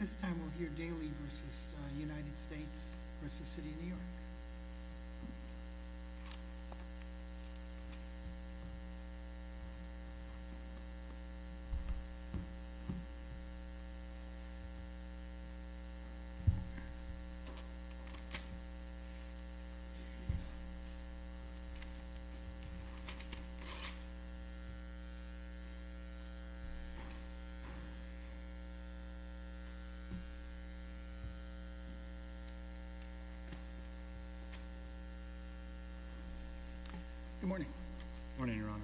This time we'll hear Daly v. United States v. City of New York. Good morning, Your Honour.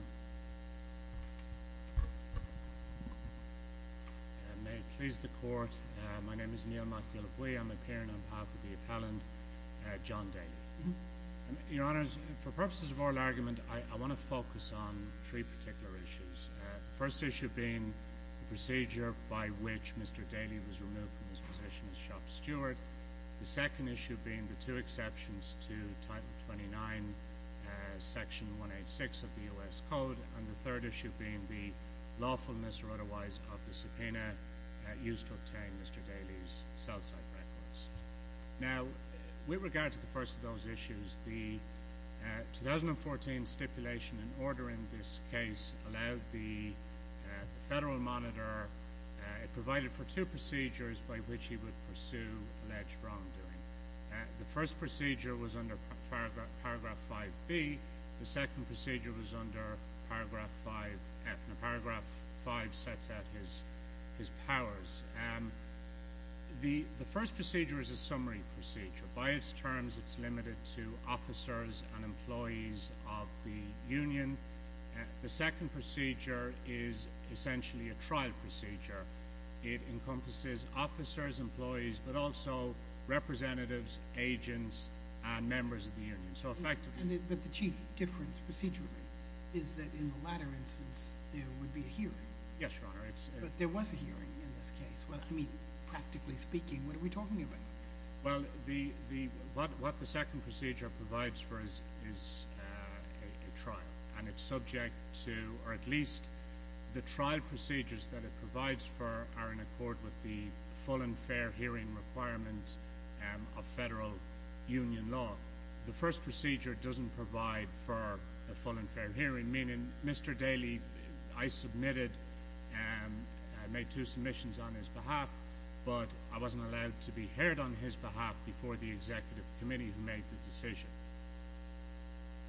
May it please the Court, my name is Neil McAuliffe-Wee. I'm appearing on behalf of the appellant, John Daly. Your Honours, for purposes of oral argument, I want to focus on three particular issues. The first issue being the procedure by which Mr. Daly was removed from his position as shop steward. The second issue being the two exceptions to Title 29, Section 186 of the U.S. Code. And the third issue being the lawfulness or otherwise of the subpoena used to obtain Mr. Daly's cell site records. Now, with regard to the first of those issues, the 2014 stipulation and order in this case allowed the Federal Monitor, it provided for two procedures by which he would pursue alleged wrongdoing. The first procedure was under Paragraph 5B. The second procedure was under Paragraph 5F. Now, Paragraph 5 sets out his powers. The first procedure is a summary procedure. By its terms, it's limited to officers and employees of the union. The second procedure is essentially a trial procedure. It encompasses officers, employees, but also representatives, agents, and members of the union. So effectively... But the key difference procedurally is that in the latter instance, there would be a hearing. Yes, Your Honour, it's... But there was a hearing in this case. Well, I mean, practically speaking, what are we talking about? Well, what the second procedure provides for is a trial, and it's subject to, or at least the trial procedures that it provides for are in accord with the full and fair hearing requirements of federal union law. The first procedure doesn't provide for a full and fair hearing, meaning Mr. Daly wasn't allowed to be heard on his behalf before the Executive Committee who made the decision.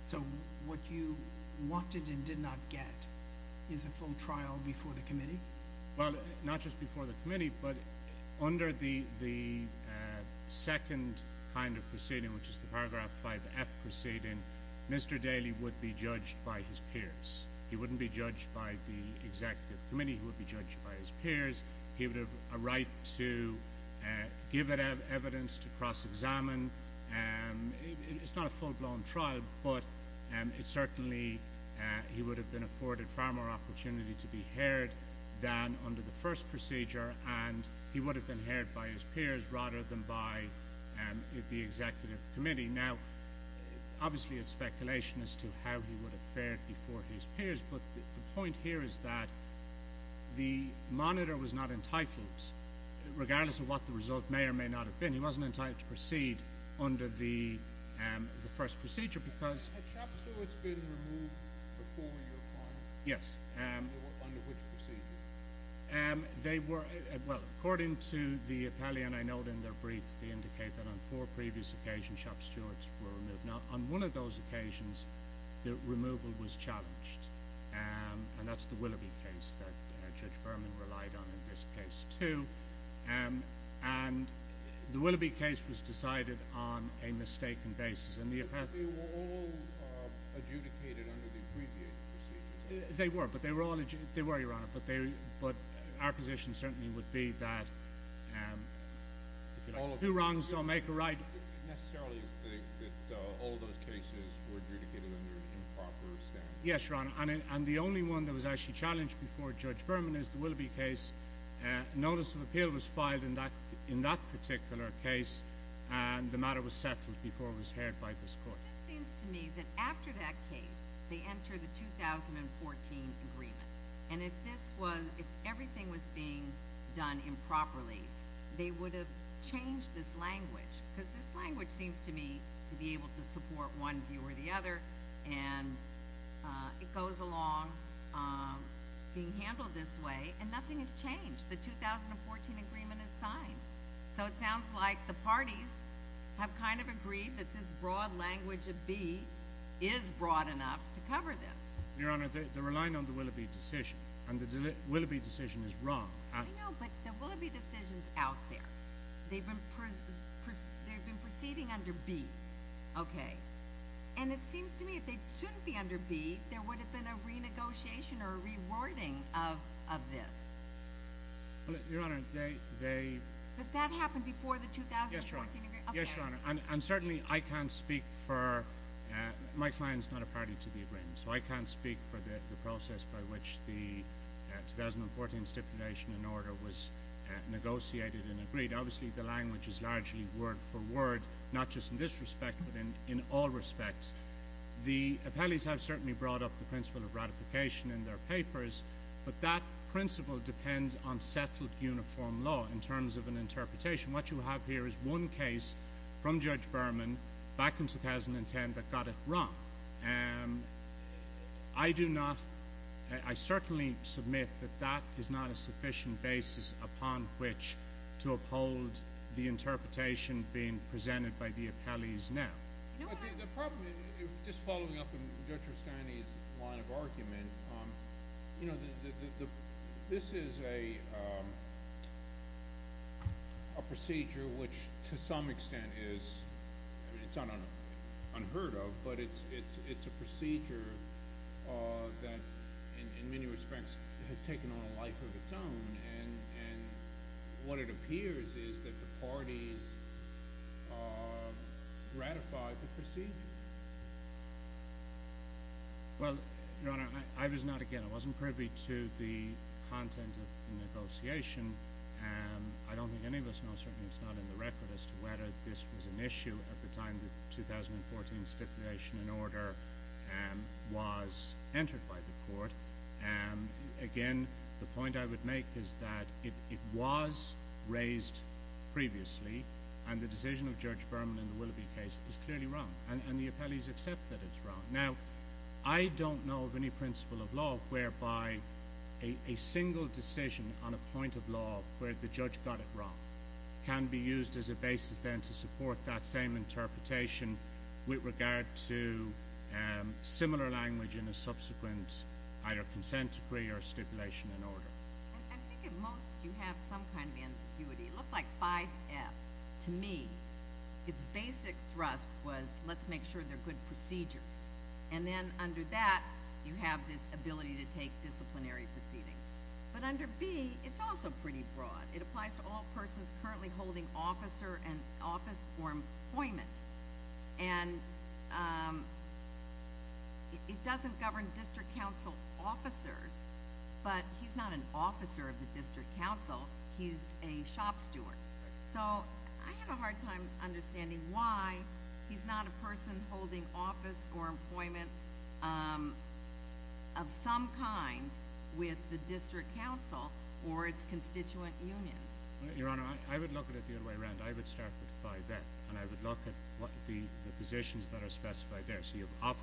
So what you wanted and did not get is a full trial before the Committee? Well, not just before the Committee, but under the second kind of proceeding, which is the Paragraph 5F proceeding, Mr. Daly would be judged by his peers. He wouldn't be judged by the Executive Committee, he would be judged by his peers. He would have a right to give evidence to cross-examine. It's not a full-blown trial, but it certainly... He would have been afforded far more opportunity to be heard than under the first procedure, and he would have been heard by his peers rather than by the Executive Committee. Now, obviously it's speculation as to how he would have fared before his peers, but the point here is that the monitor was not entitled, regardless of what the result may or may not have been, he wasn't entitled to proceed under the first procedure because... Had Chap Stewart's been removed before your time? Yes. Under which procedure? They were, well, according to the appellee and I note in their brief, they indicate that on four previous occasions, Chap Stewart's were removed. Now, on one of those occasions, the removal was challenged, and that's the Willoughby case that Judge Berman relied on in this case, too, and the Willoughby case was decided on a mistaken basis, and the appellee... But they were all adjudicated under the abbreviated procedures? They were, but they were all adjudicated... They were, Your Honor, but they... But our position certainly would be that, um, if you like, two wrongs don't make a right... Necessarily, you think that all of those cases were adjudicated under improper standards? Yes, Your Honor, and the only one that was actually challenged before Judge Berman is the Willoughby case. A notice of appeal was filed in that particular case, and the matter was settled before it was heard by this Court. It just seems to me that after that case, they entered the 2014 agreement, and if this was... done improperly, they would have changed this language, because this language seems to me to be able to support one view or the other, and it goes along being handled this way, and nothing has changed. The 2014 agreement is signed, so it sounds like the parties have kind of agreed that this broad language of B is broad enough to cover this. Your Honor, they're relying on the Willoughby decision, and the Willoughby decision is wrong. I know, but the Willoughby decision's out there. They've been proceeding under B, okay, and it seems to me if they shouldn't be under B, there would have been a renegotiation or a rewording of this. Well, Your Honor, they... Does that happen before the 2014 agreement? Yes, Your Honor, and certainly, I can't speak for... My client's not a party to the agreement, so I can't speak for the process by which the 2014 stipulation and order was negotiated and agreed. Obviously, the language is largely word for word, not just in this respect, but in all respects. The appellees have certainly brought up the principle of ratification in their papers, but that principle depends on settled uniform law in terms of an interpretation. What you have here is one case from Judge Berman back in 2010 that got it wrong, I do not... I certainly submit that that is not a sufficient basis upon which to uphold the interpretation being presented by the appellees now. The problem, just following up on Judge Rustani's line of argument, you know, this is a procedure which to some extent is... I mean, it's unheard of, but it's a procedure that in many respects has taken on a life of its own, and what it appears is that the parties ratified the procedure. Well, Your Honor, I was not, again, I wasn't privy to the content of the negotiation, and I don't think any of us know, certainly it's not in the record, as to whether this was an issue at the time the 2014 stipulation in order was entered by the court. Again, the point I would make is that it was raised previously, and the decision of Judge Berman in the Willoughby case is clearly wrong, and the appellees accept that it's wrong. Now, I don't know of any principle of law whereby a single decision on a point of law where the judge got it wrong can be used as a basis, then, to support that same interpretation with regard to similar language in a subsequent either consent decree or stipulation in order. I think at most you have some kind of ambiguity. It looked like 5F to me. Its basic thrust was, let's make sure they're good procedures, and then under that, you have this ability to take disciplinary proceedings, but under B, it's also pretty broad. It applies to all persons currently holding office or employment, and it doesn't govern district council officers, but he's not an officer of the district council. He's a shop steward, so I have a hard time understanding why he's not a person holding office or employment of some kind with the district council or its constituent unions. Your Honor, I would look at it the other way around. I would start with 5F, and I would look at what the positions that are specified there. So, you have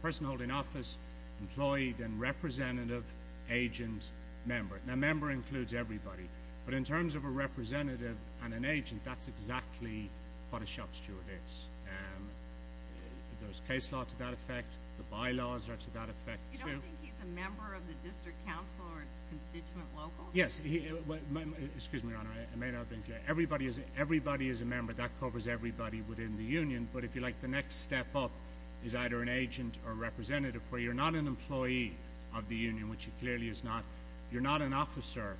person holding office, employee, then representative, agent, member. Now, member includes everybody, but in terms of a representative and an agent, that's exactly what a shop steward is. There's case law to that effect. The bylaws are to that effect, too. You don't think he's a member of the district council or its constituent local? Yes. Excuse me, Your Honor. I may not have been clear. Everybody is a member. That covers everybody within the union, but if you like, the next step up is either an agent or representative, where you're not an employee of the union, which he clearly is not. You're not an officer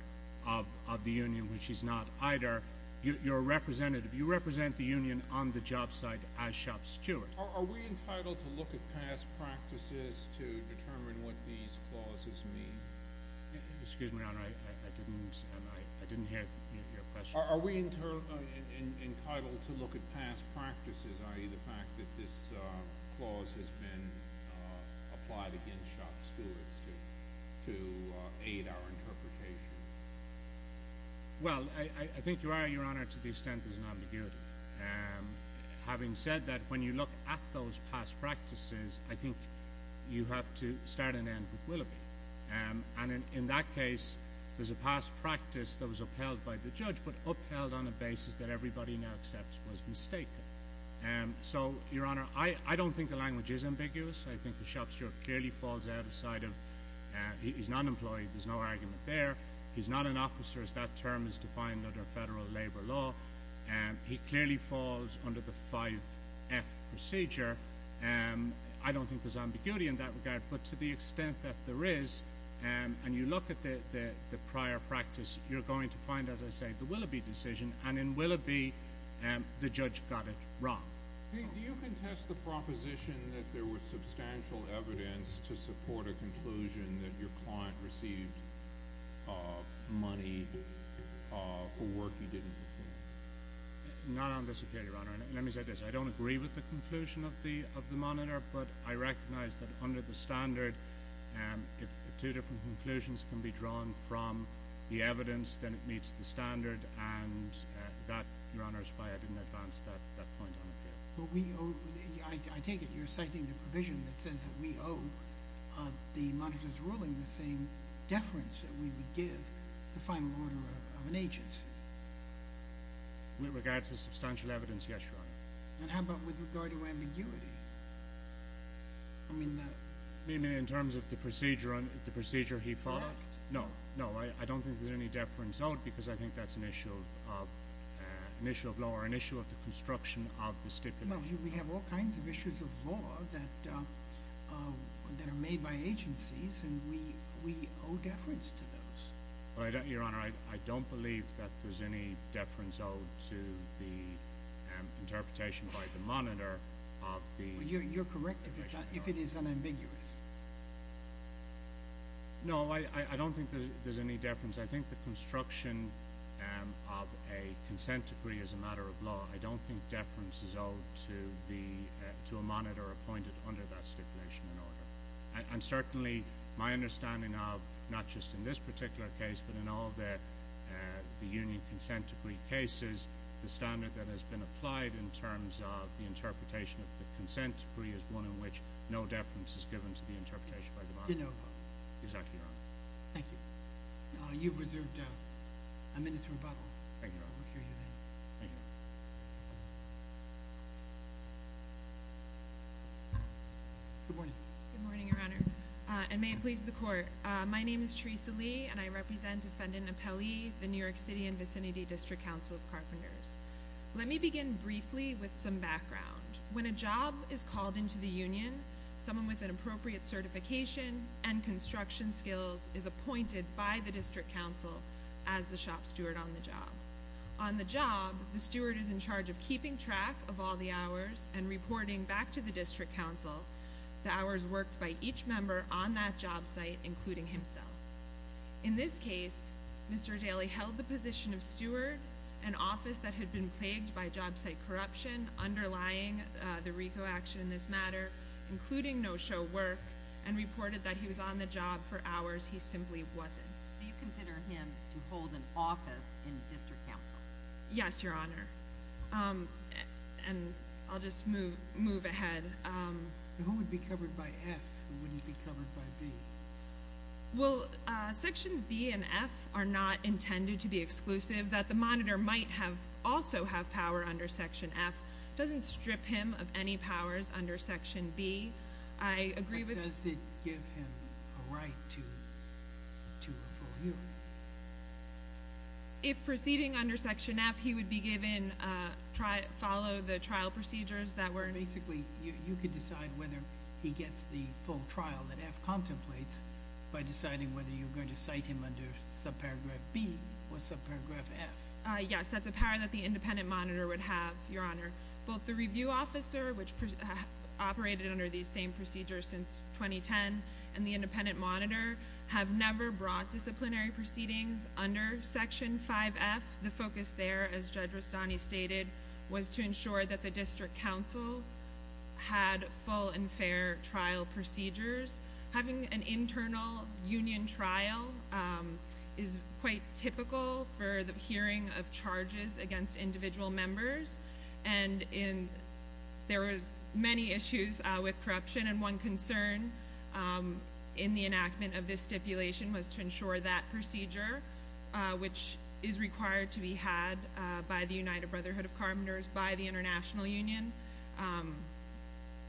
of the union, which he's not either. You're a representative. You represent the union on the job site as shop steward. Are we entitled to look at past practices to determine what these clauses mean? Excuse me, Your Honor. I didn't hear your question. Are we entitled to look at past practices, i.e., the fact that this clause has been applied against shop stewards to aid our having said that, when you look at those past practices, I think you have to start and end with Willoughby. And in that case, there's a past practice that was upheld by the judge, but upheld on a basis that everybody now accepts was mistaken. So, Your Honor, I don't think the language is ambiguous. I think the shop steward clearly falls outside of—he's not an employee. There's no argument there. He's not an officer, as that term is defined under federal labor law. He clearly falls under the 5F procedure. I don't think there's ambiguity in that regard, but to the extent that there is, and you look at the prior practice, you're going to find, as I say, the Willoughby decision. And in Willoughby, the judge got it wrong. Do you contest the proposition that there was substantial evidence to support a conclusion that your client received money for work you did in the field? Not on this appeal, Your Honor. Let me say this. I don't agree with the conclusion of the monitor, but I recognize that under the standard, if two different conclusions can be drawn from the evidence, then it meets the standard, and that, Your Honor, is why I didn't advance that point on appeal. But we owe—I take it you're citing the provision that says that we owe the monitor's ruling the same deference that we would give the final order of an agency? With regard to substantial evidence, yes, Your Honor. And how about with regard to ambiguity? I mean, that— I mean, in terms of the procedure he followed. Correct. No, no. I don't think there's any deference out, because I think that's an issue of law or an issue of the construction of the stipulation. We have all kinds of issues of law that are made by agencies, and we owe deference to those. Your Honor, I don't believe that there's any deference owed to the interpretation by the monitor of the— You're correct if it is unambiguous. No, I don't think there's any deference. I think the construction of a consent decree is a matter of law. I don't think deference is owed to a monitor appointed under that stipulation and order. And certainly, my understanding of, not just in this particular case, but in all the union consent decree cases, the standard that has been applied in terms of the interpretation of the consent decree is one in which no deference is given to the interpretation by the monitor. You know about it. Exactly, Your Honor. Thank you. You've reserved a minute to rebuttal. Thank you, Your Honor. We'll hear you then. Thank you. Good morning. Good morning, Your Honor, and may it please the Court. My name is Teresa Lee, and I represent Defendant Apelli, the New York City and Vicinity District Council of Carpenters. Let me begin briefly with some background. When a job is called into the union, someone with an appropriate certification and construction skills is appointed by the District Council as the shop steward on the job. On the job, the steward is in charge of keeping track of all the hours and reporting back to the District Council the hours worked by each member on that job site, including himself. In this case, Mr. Daley held the position of steward, an office that had been plagued by job site corruption underlying the RICO action in this case, including no-show work, and reported that he was on the job for hours he simply wasn't. Do you consider him to hold an office in the District Council? Yes, Your Honor, and I'll just move ahead. Who would be covered by F? Who wouldn't be covered by B? Well, Sections B and F are not intended to be exclusive. That the monitor might have power under Section F doesn't strip him of any powers under Section B. But does it give him a right to a full hearing? If proceeding under Section F, he would be given, follow the trial procedures that were- Basically, you could decide whether he gets the full trial that F contemplates by deciding whether you're going to cite him under subparagraph B or subparagraph F. Yes, that's a power that the independent monitor would have, Your Honor. Both the review officer, which operated under these same procedures since 2010, and the independent monitor have never brought disciplinary proceedings under Section 5F. The focus there, as Judge Rustani stated, was to ensure that the District Council had full and fair trial procedures. Having an internal union trial is quite typical for the charges against individual members. There were many issues with corruption, and one concern in the enactment of this stipulation was to ensure that procedure, which is required to be had by the United Brotherhood of Carpenters, by the international union,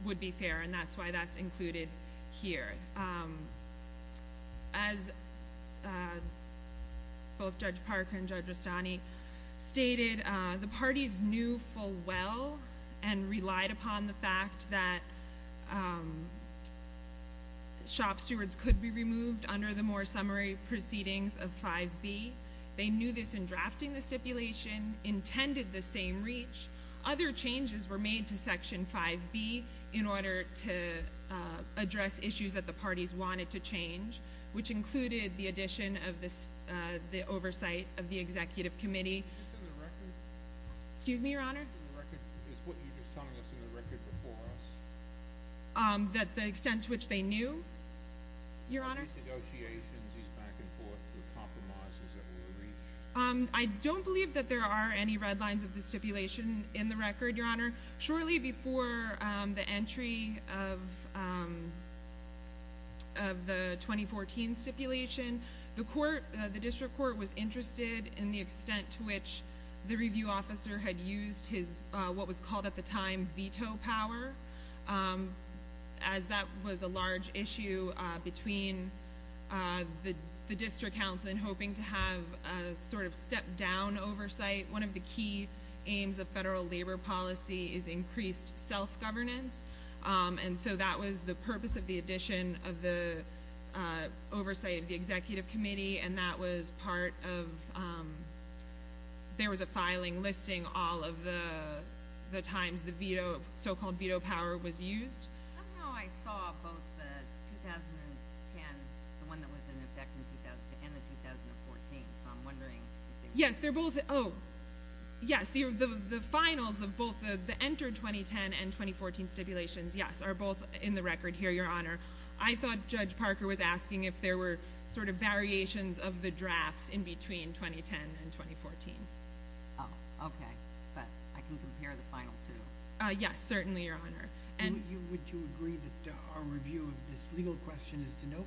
would be fair. That's why that's included here. As both Judge Parker and Judge Rustani stated, the parties knew full well and relied upon the fact that shop stewards could be removed under the more summary proceedings of 5B. They knew this in drafting the stipulation, intended the same reach. Other changes were made to Section 5B in order to address issues that the parties wanted to change, which included the addition of the oversight of the Executive Committee. Is this in the record? Excuse me, Your Honor? Is this in the record? Is what you're just telling us in the record before us? That the extent to which they knew, Your Honor? These negotiations, these back and forth with compromises that were reached? I don't believe that there are any red lines of the stipulation in the record, Your Honor. Shortly before the entry of the 2014 stipulation, the District Court was interested in the extent to which the review officer had used his, what was called at the time, veto power, as that was a large issue between the District Council in hoping to have a sort of step-down oversight. One of the key aims of federal labor policy is increased self-governance, and so that was the purpose of the addition of the oversight of the Executive Committee, and that was part of, there was a filing listing all of the times the so-called veto power was used. Somehow I saw both the 2010, the one that was in effect, and the 2014, so I'm wondering. Yes, they're both, oh, yes, the finals of both the entered 2010 and 2014 stipulations, yes, are both in the record here, Your Honor. I thought Judge Parker was asking if there were sort of variations of the drafts in between 2010 and 2014. Oh, okay, but I can compare the final two. Yes, certainly, Your Honor. Would you agree that our review of this legal question is de novo?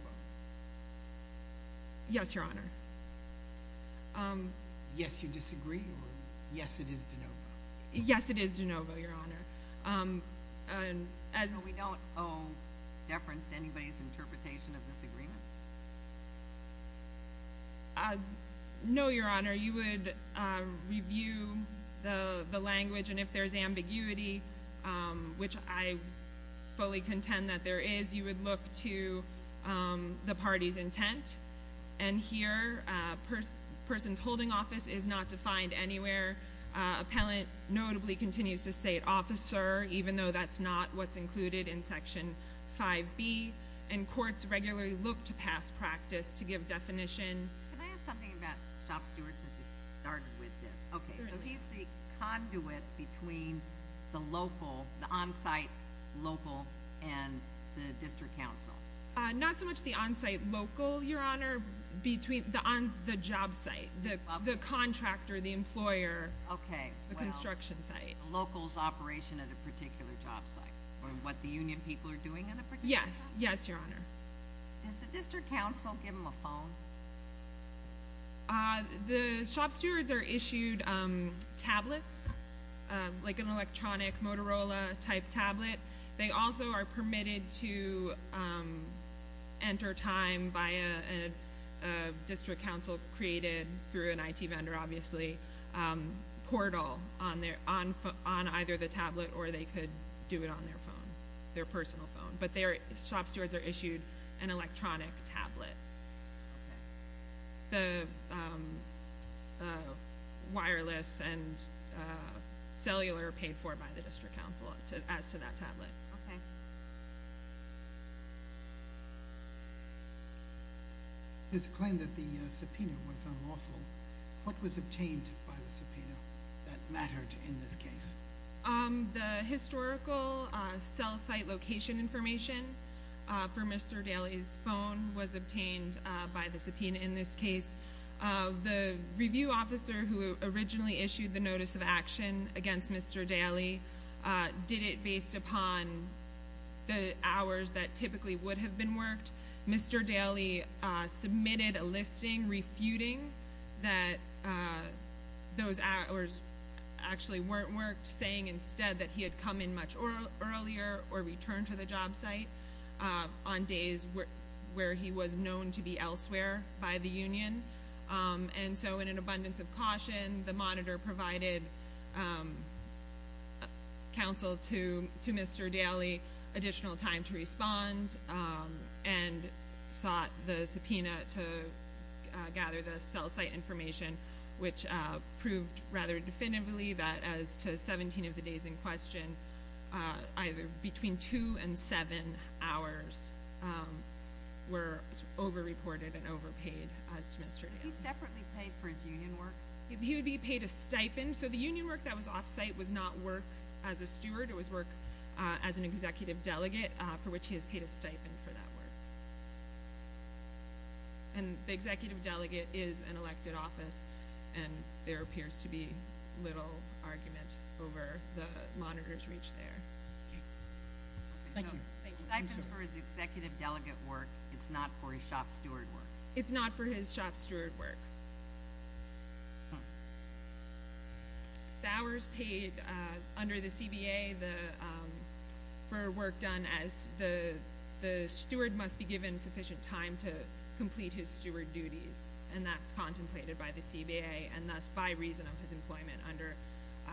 Yes, Your Honor. Yes, you disagree, or yes, it is de novo? Yes, it is de novo, Your Honor, and as— So we don't owe deference to anybody's interpretation of this agreement? No, Your Honor, you would review the language, and if there's ambiguity, which I fully contend that there is, you would look to the party's intent. And here, person's holding office is not defined anywhere. Appellant notably continues to state officer, even though that's not what's included in Section 5B, and courts regularly look to past practice to give definition. Can I ask something about Shop Stewards that just started with this? He's the conduit between the local, the on-site local, and the district council. Not so much the on-site local, Your Honor, between the job site, the contractor, the employer— Okay, well— —the construction site. Locals' operation at a particular job site, or what the union people are doing at a particular— Yes, yes, Your Honor. Does the district council give them a phone? The Shop Stewards are issued tablets, like an electronic Motorola-type tablet. They also are permitted to enter time via a district council created through an IT vendor, obviously, portal on either the tablet, or they could do it on their phone, their personal phone. But Shop Stewards are issued an electronic tablet. Okay. The wireless and cellular are paid for by the district council, as to that tablet. Okay. It's claimed that the subpoena was unlawful. What was obtained by the subpoena that mattered in this case? The historical cell site location information for Mr. Daly's phone was obtained by the subpoena in this case. The review officer who originally issued the notice of action against Mr. Daly did it based upon the hours that typically would have been worked. Mr. Daly submitted a listing refuting that those hours actually weren't worked, saying instead that he had come in much earlier or returned to the job site on days where he was known to be elsewhere by the union. So, in an abundance of caution, the monitor provided counsel to Mr. Daly additional time to respond and sought the subpoena to gather the cell site information, which proved rather definitively that as to 17 of the days in question, either between two and seven hours were over-reported and overpaid as to Mr. Daly. Was he separately paid for his union work? He would be paid a stipend. The union work that was off-site was not work as a steward. It was work as an executive delegate, for which he has paid a stipend for that work. The executive delegate is an elected office, and there appears to be little argument over the monitor's reach there. Thank you. Stipend for his executive delegate work, it's not for his shop steward work? It's not for his shop steward work. The hours paid under the CBA for work done as the steward must be given sufficient time to complete his steward duties, and that's contemplated by the CBA and thus by reason of his employment under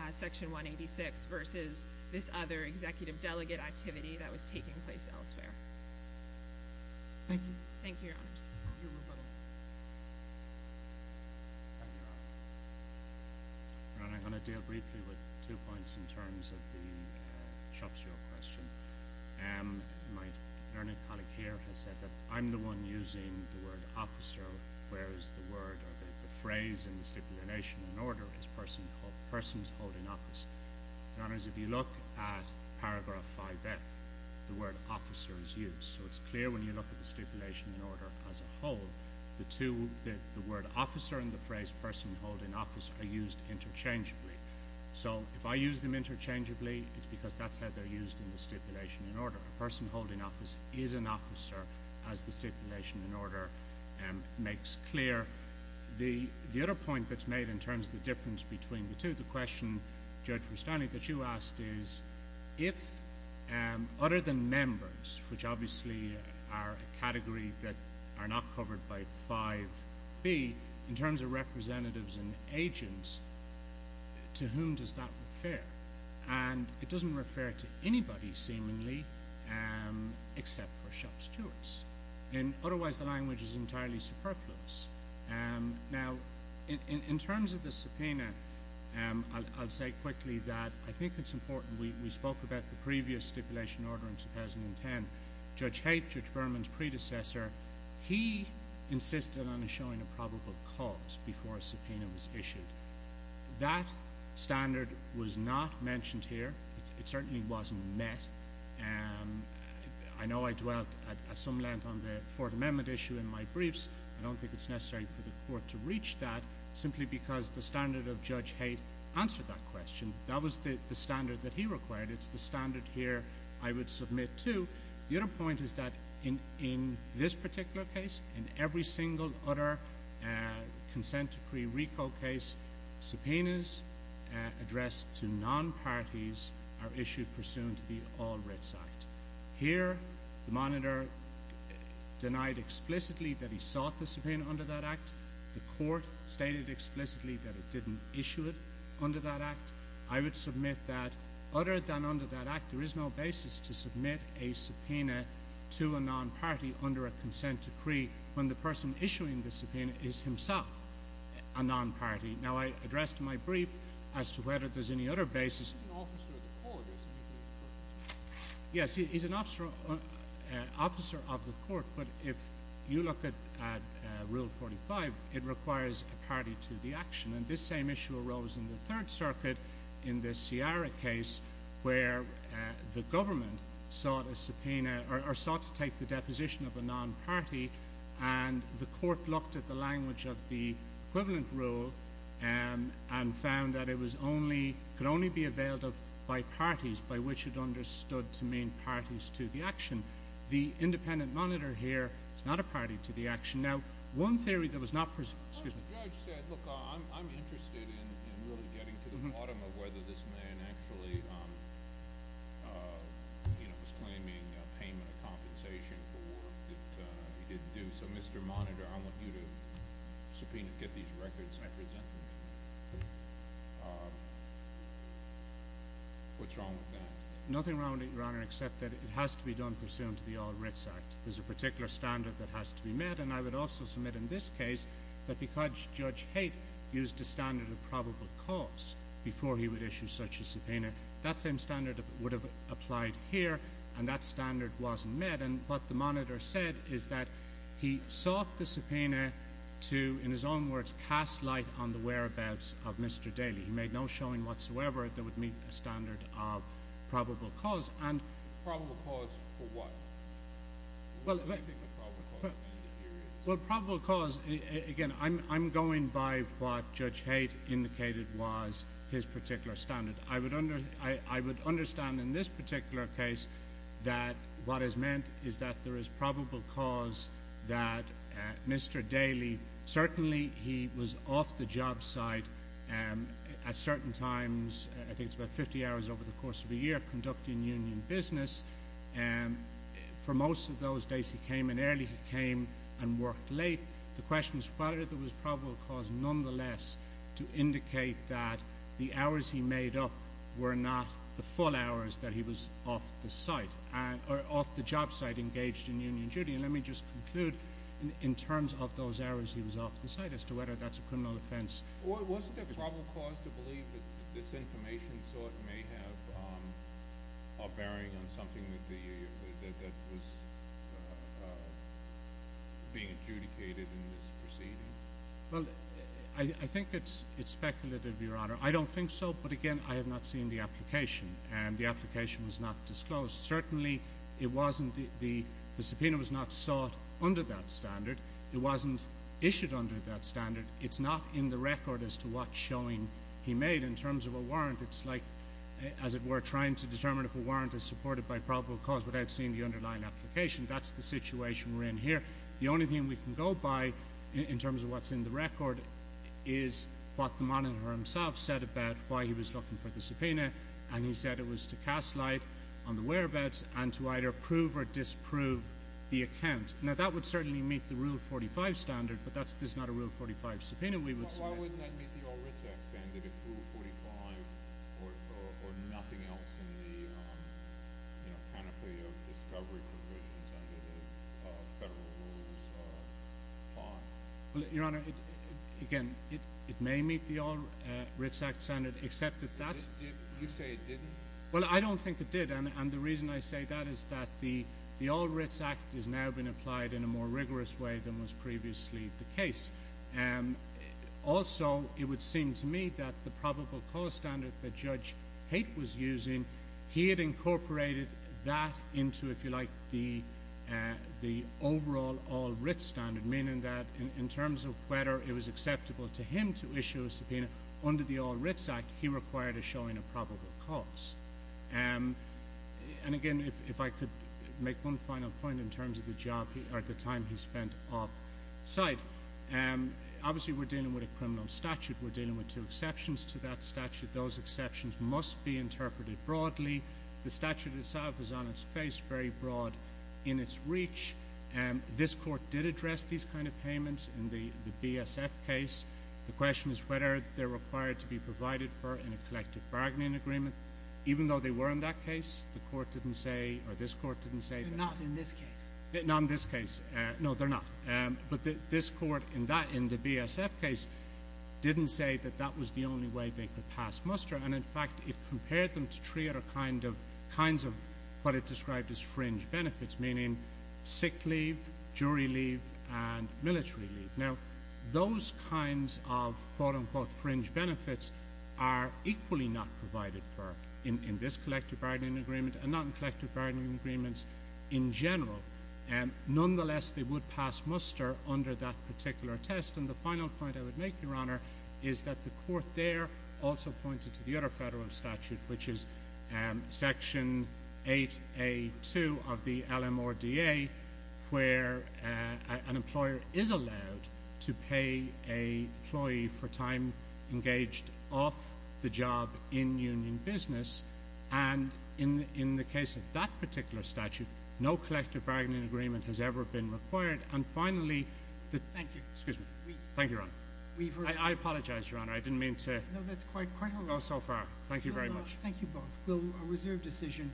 Section 186 versus this other executive delegate activity that was taking place elsewhere. Thank you. Thank you, Your Honors. Your Honor, I'm going to deal briefly with two points in terms of the shop steward question. My learning colleague here has said that I'm the one using the word officer, whereas the word or the phrase in the stipulation in order is person's holding office. Your Honors, if you look at paragraph 5F, the word officer is used, so it's clear when you look at the stipulation in order as a whole. The word officer and the phrase person holding office are used interchangeably. If I use them interchangeably, it's because that's how they're used in the stipulation in order. A person holding office is an officer, as the stipulation in order makes clear. The other point that's made in terms of the difference between the two, the question, Judge Freestanding, that you asked is, if other than members, which obviously are a category that are not covered by 5B, in terms of representatives and agents, to whom does that refer? It doesn't refer to anybody, seemingly, except for shop stewards. Otherwise, the language is entirely superfluous. Now, in terms of the subpoena, I'll say quickly that I think it's important. We spoke about the previous stipulation order in 2010. Judge Haight, Judge Berman's predecessor, he insisted on showing a probable cause before a subpoena was issued. That standard was not mentioned here. It certainly wasn't met. I know I dwelt at some length on the Fourth Amendment issue in my briefs. I don't think it's necessary for the Court to reach that, simply because the standard of Judge Haight answered that question. That was the standard that he required. It's the standard here I would submit to. The other point is that in this particular case, in every single other consent decree RICO case, subpoenas addressed to non-parties are issued pursuant to the All Writs Act. Here, the monitor denied explicitly that he sought the subpoena under that Act. The Court stated explicitly that it didn't issue it under that Act. I would submit that, other than under that Act, there is no basis to submit a subpoena to a non-party under a consent decree when the person issuing the subpoena is himself a non-party. Now, I addressed in my brief as to whether there's any other basis. Yes, he's an officer of the Court. But if you look at Rule 45, it requires a party to the action. This same issue arose in the Third Circuit, in the Ciara case, where the Government sought a subpoena, or sought to take the deposition of a non-party, and the Court looked at the equivalent rule and found that it could only be availed of by parties, by which it understood to mean parties to the action. The independent monitor here is not a party to the action. Now, one theory that was not— Well, the judge said, look, I'm interested in really getting to the bottom of whether this man actually was claiming a payment of compensation for what he didn't do. So, Mr. Monitor, I want you to subpoena, get these records, and I present them. What's wrong with that? Nothing wrong with it, Your Honor, except that it has to be done pursuant to the All Writs Act. There's a particular standard that has to be met, and I would also submit in this case that because Judge Haight used a standard of probable cause before he would issue such a subpoena, that same standard would have applied here, and that standard wasn't met. And what the monitor said is that he sought the subpoena to, in his own words, cast light on the whereabouts of Mr. Daley. He made no showing whatsoever that would meet a standard of probable cause. And— Probable cause for what? What do you think of probable cause in that area? Well, probable cause—again, I'm going by what Judge Haight indicated was his particular standard. I would understand in this particular case that what is meant is that there is probable cause that Mr. Daley—certainly, he was off the job site at certain times—I think it's about 50 hours over the course of a year—conducting union business. For most of those days, he came in early. He came and worked late. The question is whether there was probable cause nonetheless to indicate that the hours he made up were not the full hours that he was off the job site engaged in union duty. And let me just conclude in terms of those hours he was off the site as to whether that's a criminal offense. Wasn't there probable cause to believe that this information sort may have a bearing on something that was being adjudicated in this proceeding? Well, I think it's speculative, Your Honor. I don't think so, but again, I have not seen the application, and the application was not disclosed. Certainly, the subpoena was not sought under that standard. It wasn't issued under that standard. It's not in the record as to what showing he made in terms of a warrant. It's like, as it were, trying to determine if a warrant is supported by probable cause without seeing the underlying application. That's the situation we're in here. The only thing we can go by in terms of what's in the record is what the monitor himself said about why he was looking for the subpoena, and he said it was to cast light on the whereabouts and to either prove or disprove the account. Now, that would certainly meet the Rule 45 standard, but that's not a Rule 45 subpoena we would submit. Why wouldn't that meet the All-Ritz Act standard if Rule 45 or nothing else in the, you know, rules or are? Well, Your Honor, again, it may meet the All-Ritz Act standard, except that that's— Did you say it didn't? Well, I don't think it did, and the reason I say that is that the All-Ritz Act has now been applied in a more rigorous way than was previously the case. Also, it would seem to me that the probable cause standard that Judge Haight was using, he had incorporated that into, if you like, the overall All-Ritz standard, meaning that in terms of whether it was acceptable to him to issue a subpoena under the All-Ritz Act, he required a showing of probable cause. And again, if I could make one final point in terms of the job—or the time he spent off-site. Obviously, we're dealing with a criminal statute. We're dealing with two exceptions to that statute. Those exceptions must be interpreted broadly. The statute itself is on its face, very broad in its reach. This Court did address these kind of payments in the BSF case. The question is whether they're required to be provided for in a collective bargaining agreement. Even though they were in that case, the Court didn't say—or this Court didn't say— Not in this case. Not in this case. No, they're not. But this Court, in the BSF case, didn't say that that was the only way they could pass muster. And in fact, it compared them to three other kinds of what it described as fringe benefits, meaning sick leave, jury leave, and military leave. Now, those kinds of, quote-unquote, fringe benefits are equally not provided for in this collective bargaining agreement and not in collective bargaining agreements in general. Nonetheless, they would pass muster under that particular test. The final point I would make, Your Honor, is that the Court there also pointed to the other federal statute, which is Section 8A2 of the LMRDA, where an employer is allowed to pay an employee for time engaged off the job in union business. And in the case of that particular statute, no collective bargaining agreement has ever been required. And finally— Thank you. Excuse me. Thank you, Your Honor. I apologize, Your Honor. I didn't mean to— No, that's quite all right. —go so far. Thank you very much. Thank you both. We'll reserve decision.